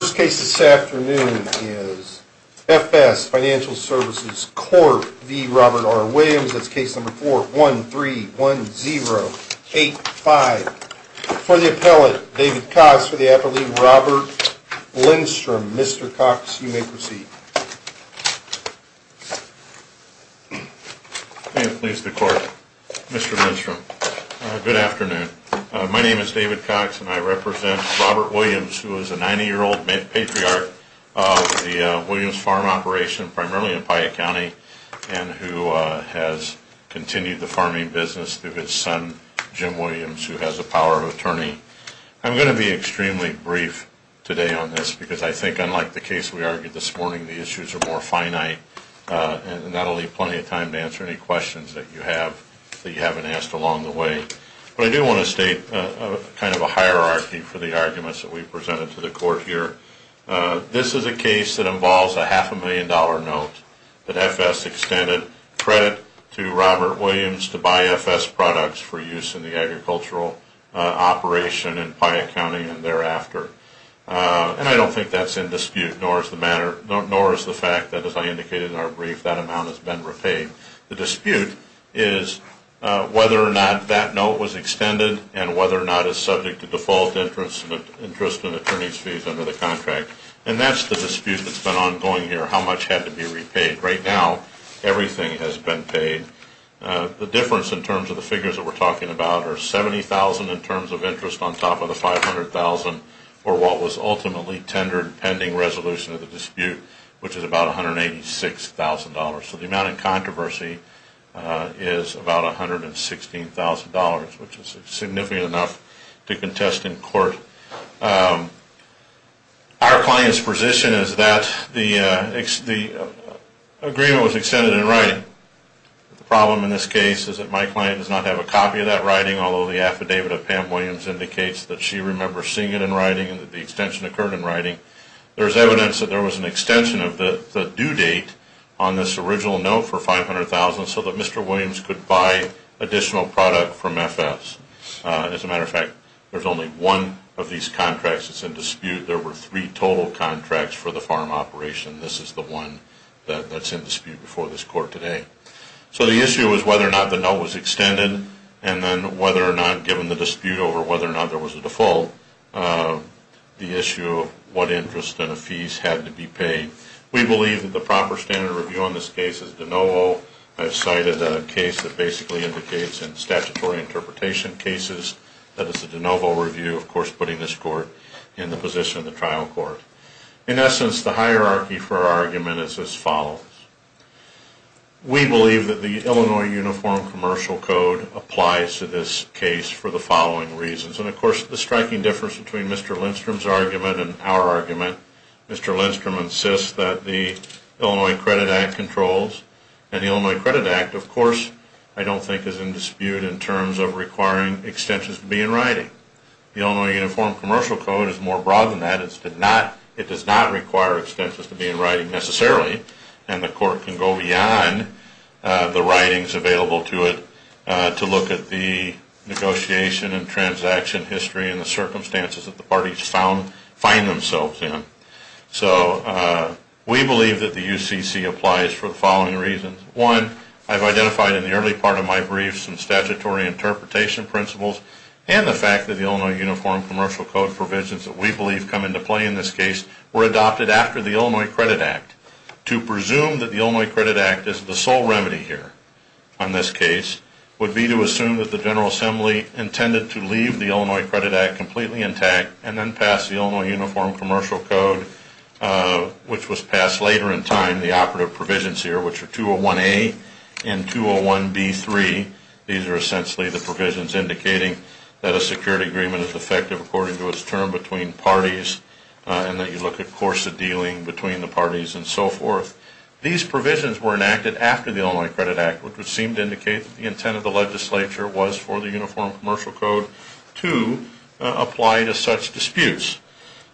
This case this afternoon is F.S. Financial Services, Corp. v. Robert R. Williams. That's case number 4131085. For the appellate, David Cox, for the appellate, Robert Lindstrom. Mr. Cox, you may proceed. May it please the court. Mr. Lindstrom, good afternoon. My name is David Cox, and I represent Robert Williams, who is a 90-year-old patriarch of the Williams Farm Operation, primarily in Piatt County, and who has continued the farming business through his son, Jim Williams, who has a power of attorney. I'm going to be extremely brief today on this, because I think, unlike the case we argued this morning, the issues are more finite. And that'll leave plenty of time to answer any questions that you have that you haven't asked along the way. But I do want to state kind of a hierarchy for the arguments that we presented to the court here. This is a case that involves a half a million dollar note that F.S. extended credit to Robert Williams to buy F.S. products for use in the agricultural operation in Piatt County and thereafter. And I don't think that's in dispute, nor is the fact that, as I indicated in our brief, that amount has been repaid. The dispute is whether or not that note was extended and whether or not it's subject to default interest and attorney's fees under the contract. And that's the dispute that's been ongoing here, how much had to be repaid. Right now, everything has been paid. The difference in terms of the figures that we're talking about are 70,000 in terms of interest on top of the 500,000 for what was ultimately tendered pending resolution of the dispute, which is about $186,000. So the amount in controversy is about $116,000, which is significant enough to contest in court. Our client's position is that the agreement was extended in writing. The problem in this case is that my client does not have a copy of that writing, although the affidavit of Pam Williams indicates that she remembers seeing it in writing and that the extension occurred in writing. There's evidence that there was an extension of the due date on this original note for 500,000 so that Mr. Williams could buy additional product from FS. As a matter of fact, there's only one of these contracts that's in dispute. There were three total contracts for the farm operation. This is the one that's in dispute before this court today. So the issue is whether or not the note was extended, and then whether or not, given the dispute over whether or not there was a default. The issue of what interest and the fees had to be paid. We believe that the proper standard review on this case is de novo. I've cited a case that basically indicates in statutory interpretation cases that it's a de novo review, of course, putting this court in the position of the trial court. In essence, the hierarchy for our argument is as follows. We believe that the Illinois Uniform Commercial Code applies to this case for the following reasons. And of course, the striking difference between Mr. Lindstrom's argument and our argument, Mr. Lindstrom insists that the Illinois Credit Act controls, and the Illinois Credit Act, of course, I don't think is in dispute in terms of requiring extensions to be in writing. The Illinois Uniform Commercial Code is more broad than that. It does not require extensions to be in writing necessarily, and the court can go beyond the writings available to it to look at the negotiation and transaction history and the circumstances that the parties find themselves in. So we believe that the UCC applies for the following reasons. One, I've identified in the early part of my brief some statutory interpretation principles and the fact that the Illinois Uniform Commercial Code provisions that we believe come into play in this case were adopted after the Illinois Credit Act. To presume that the Illinois Credit Act is the sole remedy here on this case would be to assume that the General Assembly intended to leave the Illinois Credit Act completely intact and then pass the Illinois Uniform Commercial Code, which was passed later in time, the operative provisions here, which are 201A and 201B3. These are essentially the provisions indicating that a security agreement is effective according to its term between parties, and that you look at course of dealing between the parties and so forth. These provisions were enacted after the Illinois Credit Act, which would seem to indicate that the intent of the legislature was for the Uniform Commercial Code to apply to such disputes.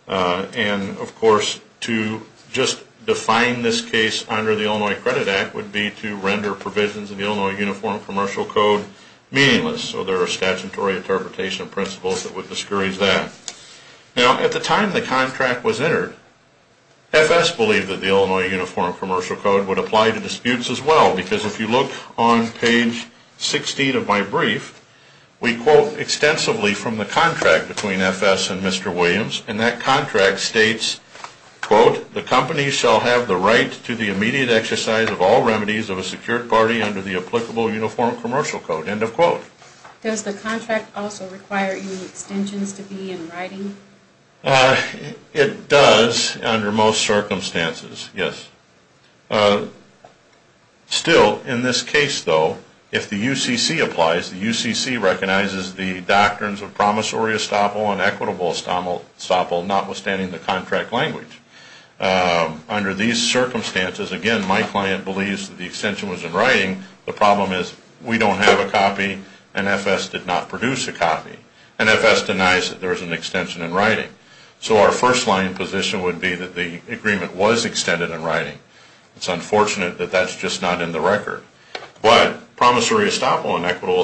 And of course, to just define this case under the Illinois Credit Act would be to render provisions of the Illinois Uniform Commercial Code meaningless. So there are statutory interpretation principles that would discourage that. Now, at the time the contract was entered, FS believed that the Illinois Uniform Commercial Code would apply to disputes as well. Because if you look on page 16 of my brief, we quote extensively from the contract between FS and Mr. Williams. And that contract states, quote, the company shall have the right to the immediate exercise of all remedies of a secured party under the applicable uniform commercial code, end of quote. Does the contract also require any extensions to be in writing? It does, under most circumstances, yes. Still, in this case though, if the UCC applies, the UCC recognizes the doctrines of promissory estoppel and equitable estoppel, notwithstanding the contract language. Under these circumstances, again, my client believes that the extension was in writing. The problem is, we don't have a copy, and FS did not produce a copy. And FS denies that there is an extension in writing. So our first line position would be that the agreement was extended in writing. It's unfortunate that that's just not in the record. But promissory estoppel and equitable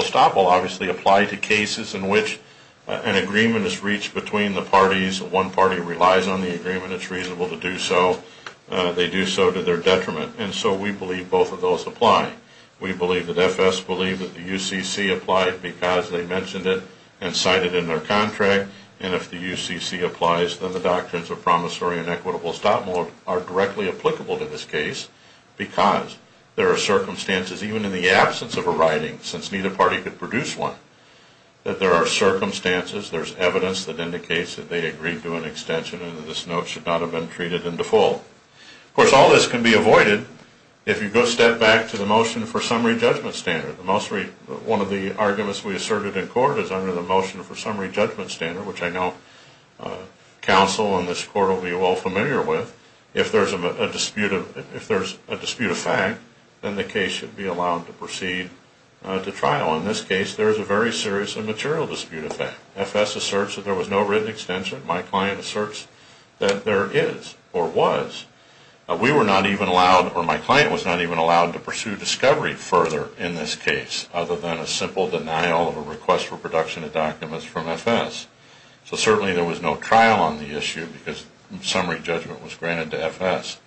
estoppel obviously apply to cases in which an agreement is reached between the parties, one party relies on the agreement, it's reasonable to do so, they do so to their detriment. And so we believe both of those apply. We believe that FS believed that the UCC applied because they mentioned it and cited it in their contract. And if the UCC applies, then the doctrines of promissory and equitable estoppel are directly applicable to this case, because there are circumstances, even in the absence of a writing, since neither party could produce one, that there are circumstances, there's evidence that indicates that they agreed to an extension and that this note should not have been treated in default. Of course, all this can be avoided if you go step back to the motion for summary judgment standard. One of the arguments we asserted in court is under the motion for summary judgment standard, which I know counsel in this court will be well familiar with. If there's a dispute of fact, then the case should be allowed to proceed to trial. Now, in this case, there's a very serious and material dispute of fact. FS asserts that there was no written extension. My client asserts that there is or was. We were not even allowed, or my client was not even allowed to pursue discovery further in this case, other than a simple denial of a request for production of documents from FS. So certainly there was no trial on the issue because summary judgment was granted to FS.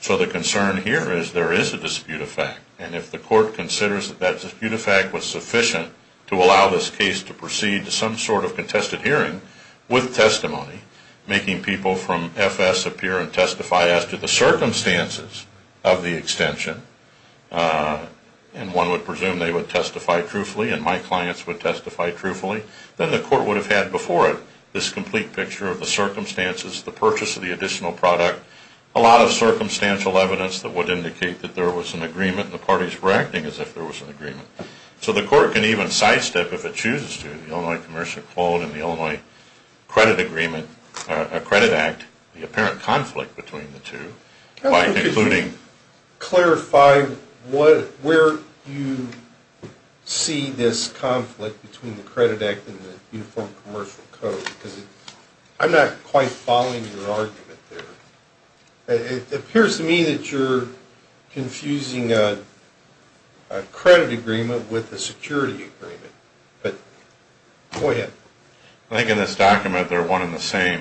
So the concern here is there is a dispute of fact. And if the court considers that that dispute of fact was sufficient to allow this case to proceed to some sort of contested hearing with testimony, making people from FS appear and testify as to the circumstances of the extension, and one would presume they would testify truthfully and my clients would testify truthfully, then the court would have had before it this complete picture of the circumstances, the purchase of the additional product, a lot of circumstantial evidence that would indicate that there was an agreement and the parties were acting as if there was an agreement. So the court can even sidestep if it chooses to, the Illinois Commercial Code and the Illinois Credit Agreement, a credit act, the apparent conflict between the two, by concluding. Clarify where you see this conflict between the credit act and the Uniform Commercial Code. I'm not quite following your argument there. It appears to me that you're confusing a credit agreement with a security agreement. But go ahead. I think in this document they're one and the same.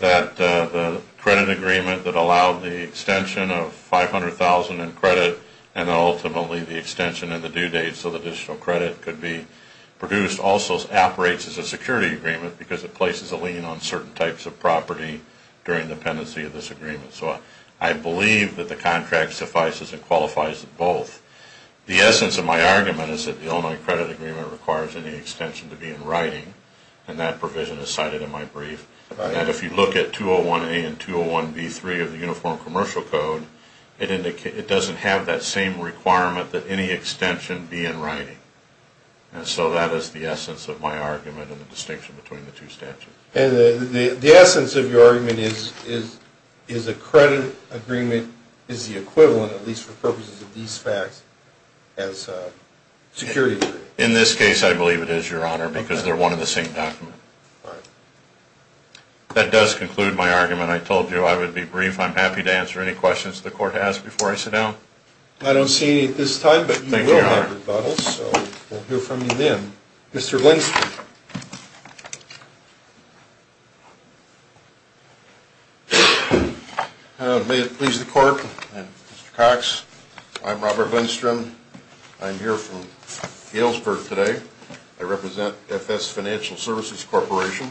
That the credit agreement that allowed the extension of 500,000 in credit, and then ultimately the extension in the due date so the additional credit could be produced, also operates as a security agreement because it places a lien on certain types of property during the pendency of this agreement. So I believe that the contract suffices and qualifies both. The essence of my argument is that the Illinois Credit Agreement requires any extension to be in writing. And that provision is cited in my brief. And if you look at 201A and 201B3 of the Uniform Commercial Code, it doesn't have that same requirement that any extension be in writing. And so that is the essence of my argument and the distinction between the two statutes. And the essence of your argument is a credit agreement is the equivalent, at least for purposes of these facts, as a security agreement. In this case, I believe it is, Your Honor, because they're one and the same document. All right. That does conclude my argument. I told you I would be brief. I'm happy to answer any questions the court has before I sit down. I don't see any at this time, but you will have rebuttals, so we'll hear from you then. Mr. Lindstrom. May it please the court, Mr. Cox. I'm Robert Lindstrom. I'm here from Galesburg today. I represent FS Financial Services Corporation.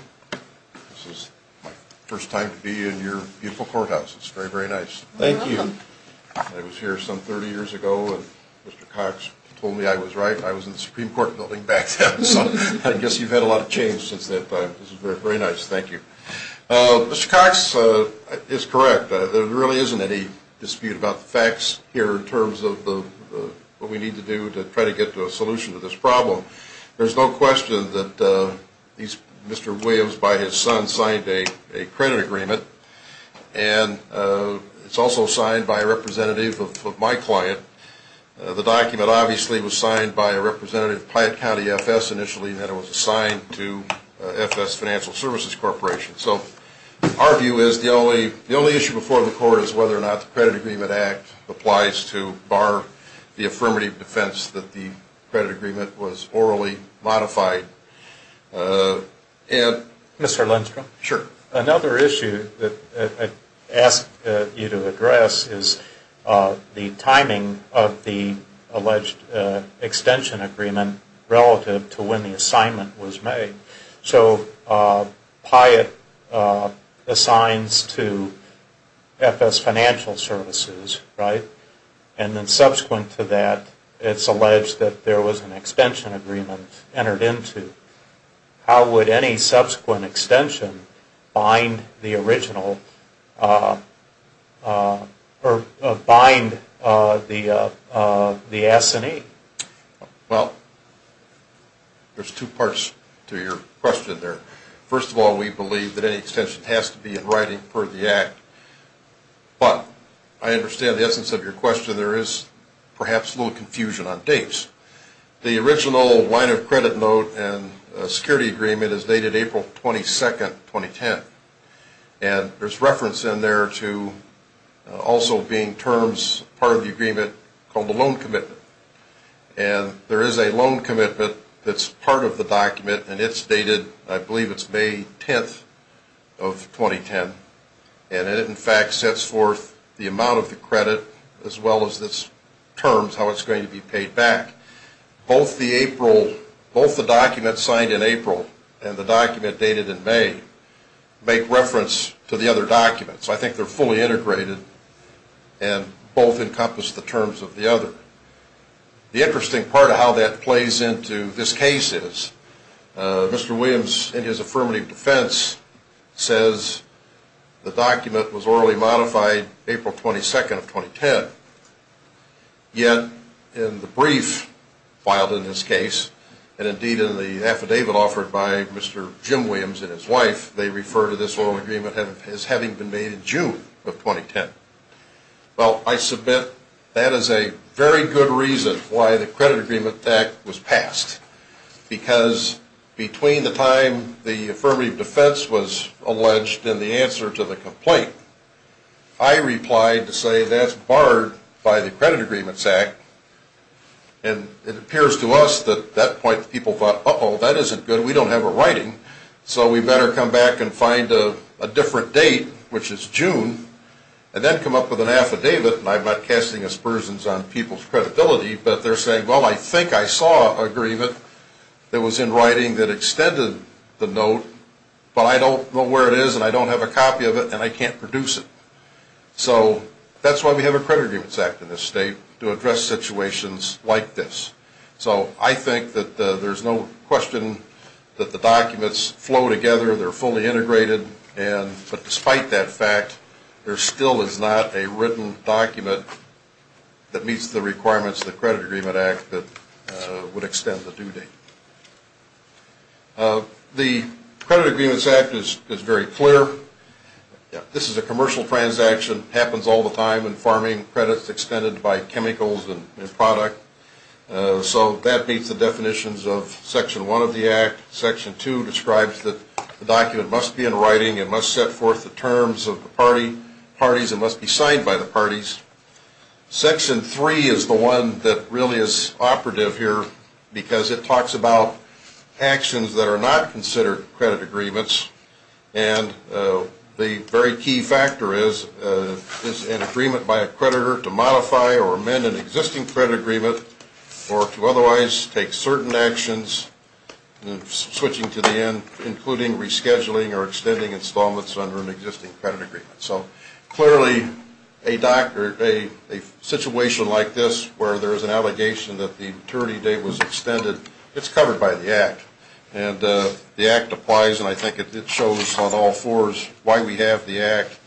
This is my first time to be in your beautiful courthouse. It's very, very nice. Thank you. I was here some 30 years ago, and Mr. Cox told me I was right. I was in the Supreme Court building back then, so I guess you've had a lot of change since that time. This is very nice. Thank you. Mr. Cox is correct. There really isn't any dispute about the facts here in terms of what we need to do to try to get to a solution to this problem. There's no question that Mr. Williams, by his son, signed a credit agreement, and it's also signed by a representative of my client. The document, obviously, was signed by a representative of Piatt County FS initially, and then it was assigned to FS Financial Services Corporation. So our view is the only issue before the court is whether or not the Credit Agreement Act applies to bar the affirmative defense that the credit agreement was orally modified. Mr. Lindstrom. Sure. Another issue that I asked you to address is the timing of the alleged extension agreement relative to when the assignment was made. So Piatt assigns to FS Financial Services, right, and then subsequent to that, it's alleged that there was an extension agreement entered into. How would any subsequent extension bind the original or bind the S&E? Well, there's two parts to your question there. First of all, we believe that any extension has to be in writing per the Act, but I understand the essence of your question. There is perhaps a little confusion on dates. The original line of credit note and security agreement is dated April 22nd, 2010, and there's reference in there to also being terms part of the agreement called the loan commitment. And there is a loan commitment that's part of the document, and it's dated, I believe it's May 10th of 2010, and it in fact sets forth the amount of the credit as well as its terms, how it's going to be paid back. Both the April, both the document signed in April and the document dated in May make reference to the other documents. I think they're fully integrated and both encompass the terms of the other. The interesting part of how that plays into this case is Mr. Williams in his affirmative defense says the document was orally modified April 22nd of 2010, yet in the brief filed in this case, and indeed in the affidavit offered by Mr. Jim Williams and his wife, they refer to this loan agreement as having been made in June of 2010. Well, I submit that is a very good reason why the Credit Agreement Act was passed, because between the time the affirmative defense was alleged and the answer to the complaint, I replied to say that's barred by the Credit Agreement Act, and it appears to us that that point people thought, uh-oh, that isn't good, we don't have a writing, so we better come back and find a different date, which is June, and then come up with an affidavit, and I'm not casting aspersions on people's credibility, but they're saying, well, I think I saw agreement that was in writing that extended the note, but I don't know where it is, and I don't have a copy of it, and I can't produce it. So that's why we have a Credit Agreements Act in this state, to address situations like this. So I think that there's no question that the documents flow together, they're fully integrated, but despite that fact, there still is not a written document that meets the requirements of the Credit Agreement Act that would extend the due date. The Credit Agreements Act is very clear. This is a commercial transaction, happens all the time in farming, credits extended by chemicals and product, so that meets the definitions of Section 1 of the Act. Section 2 describes that the document must be in writing, it must set forth the terms Section 3 is the one that really is operative here, because it talks about actions that are not considered credit agreements, and the very key factor is, is an agreement by a creditor to modify or amend an existing credit agreement, or to otherwise take certain actions, switching to the end, including rescheduling or extending installments under an existing credit agreement. So clearly, a situation like this, where there's an allegation that the maturity date was extended, it's covered by the Act, and the Act applies, and I think it shows on all fours why we have the Act,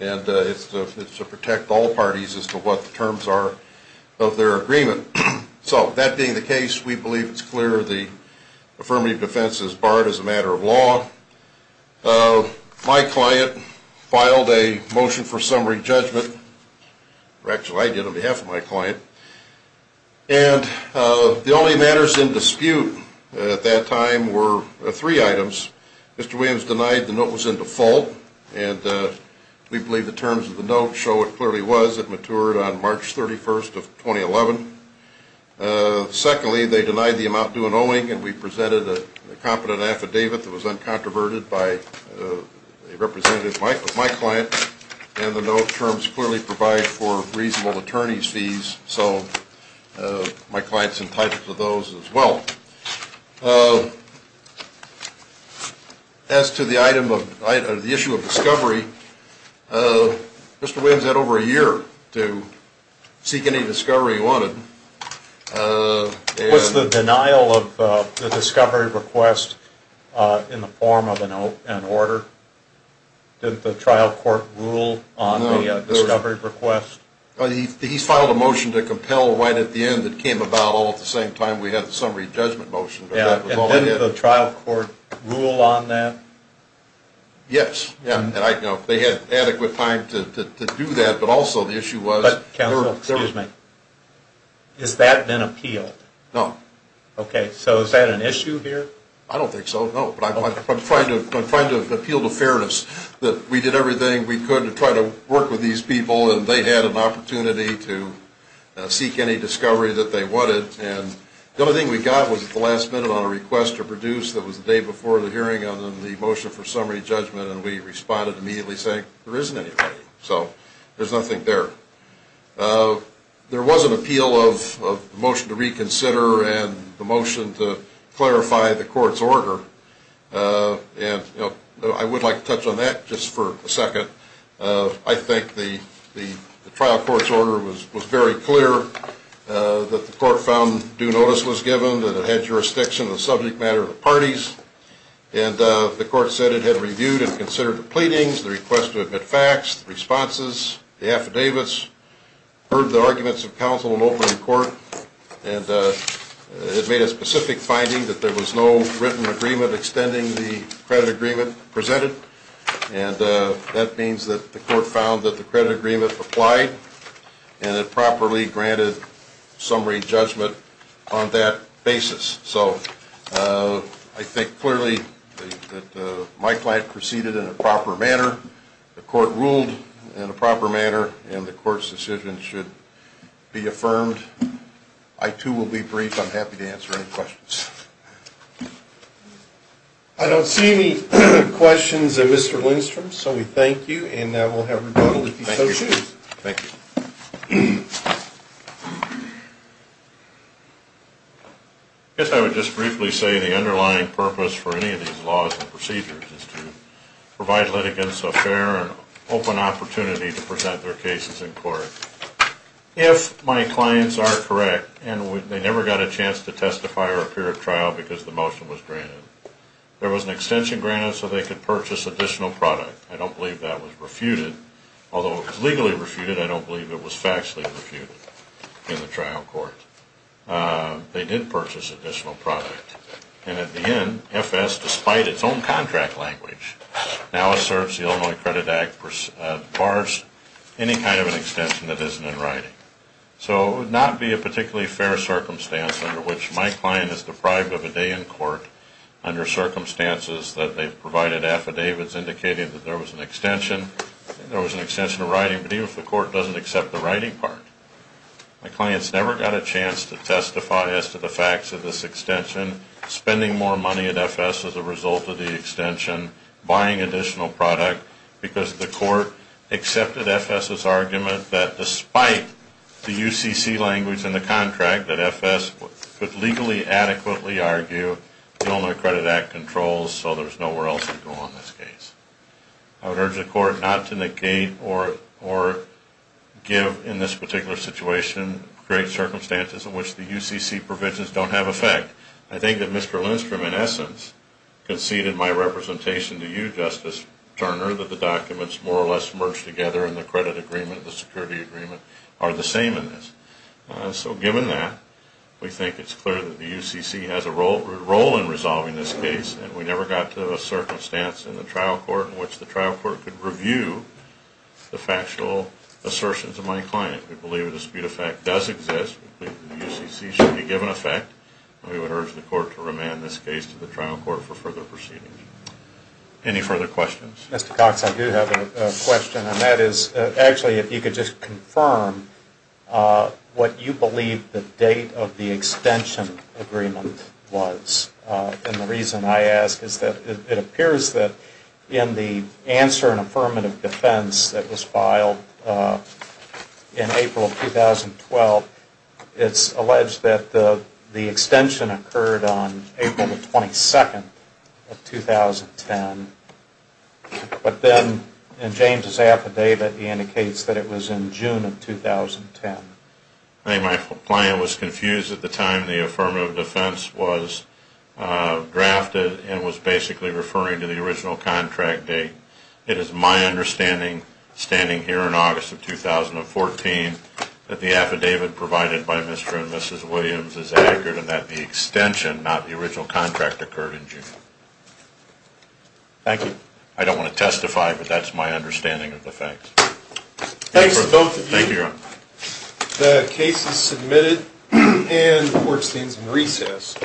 and it's to protect all parties as to what the terms are of their agreement. So that being the case, we believe it's clear the Affirmative Defense is barred as a matter of law. My client filed a motion for summary judgment, or actually, I did on behalf of my client, and the only matters in dispute at that time were three items. Mr. Williams denied the note was in default, and we believe the terms of the note show it clearly was. It matured on March 31st of 2011. Secondly, they denied the amount due in owing, and we presented a competent affidavit that was uncontroverted by a representative of my client, and the note terms clearly provide for reasonable attorney's fees, so my client's entitled to those as well. As to the issue of discovery, Mr. Williams had over a year to seek any discovery he wanted. Was the denial of the discovery request in the form of an order? Did the trial court rule on the discovery request? He filed a motion to compel right at the end that came about all at the same time we had the summary judgment motion. Did the trial court rule on that? Yes, and I know they had adequate time to do that, but also the issue was... Excuse me. Has that been appealed? No. Okay, so is that an issue here? I don't think so, no, but I'm trying to appeal to fairness that we did everything we could to try to work with these people, and they had an opportunity to seek any discovery that they wanted, and the only thing we got was at the last minute on a request to produce that was the day before the hearing on the motion for summary judgment, and we responded immediately saying there isn't anybody, so there's nothing there. There was an appeal of the motion to reconsider and the motion to clarify the court's order, and I would like to touch on that just for a second. I think the trial court's order was very clear that the court found due notice was given that it had jurisdiction of the subject matter of the parties, and the court said it had heard the pleadings, the request to admit facts, the responses, the affidavits, heard the arguments of counsel in opening court, and it made a specific finding that there was no written agreement extending the credit agreement presented, and that means that the court found that the credit agreement applied and it properly granted summary judgment on that basis. So I think clearly that my client proceeded in a proper manner, the court ruled in a proper manner, and the court's decision should be affirmed. I too will be brief. I'm happy to answer any questions. I don't see any questions of Mr. Lindstrom, so we thank you, and we'll have rebuttal if you so choose. Thank you. I guess I would just briefly say the underlying purpose for any of these laws and procedures is to provide litigants a fair and open opportunity to present their cases in court. If my clients are correct, and they never got a chance to testify or appear at trial because the motion was granted, there was an extension granted so they could purchase additional product. I don't believe that was refuted. Although it was legally refuted, I don't believe it was factually refuted in the trial court. They did purchase additional product, and at the end, FS, despite its own contract language, now asserts the Illinois Credit Act bars any kind of an extension that isn't in writing. So it would not be a particularly fair circumstance under which my client is deprived of a day in court under circumstances that they've provided affidavits indicating that there was an extension. I think there was an extension of writing, but even if the court doesn't accept the writing part, my client's never got a chance to testify as to the facts of this extension, spending more money at FS as a result of the extension, buying additional product, because the court accepted FS's argument that despite the UCC language in the contract that FS could legally and adequately argue, the Illinois Credit Act controls, so there's nowhere else to go on this case. I would urge the court not to negate or give, in this particular situation, great circumstances in which the UCC provisions don't have effect. I think that Mr. Lindstrom, in essence, conceded my representation to you, Justice Turner, that the documents more or less merged together in the credit agreement, the security agreement, are the same in this. So given that, we think it's clear that the UCC has a role in resolving this case, and we never got to a circumstance in the trial court in which the trial court could review the factual assertions of my client. We believe that the dispute effect does exist, the UCC should be given effect, and we would urge the court to remand this case to the trial court for further proceedings. Any further questions? Mr. Cox, I do have a question, and that is, actually, if you could just confirm what you believe the date of the extension agreement was. And the reason I ask is that it appears that in the answer and affirmative defense that was filed in April of 2012, it's alleged that the extension occurred on April the 22nd of 2010. But then, in James' affidavit, he indicates that it was in June of 2010. I think my client was confused at the time the affirmative defense was drafted and was basically referring to the original contract date. It is my understanding, standing here in August of 2014, that the affidavit provided by Mr. and Mrs. Williams is accurate and that the extension, not the original contract, occurred in June. Thank you. I don't want to testify, but that's my understanding of the facts. Thanks to both of you. Thank you, Your Honor. The case is submitted, and the court stands in recess.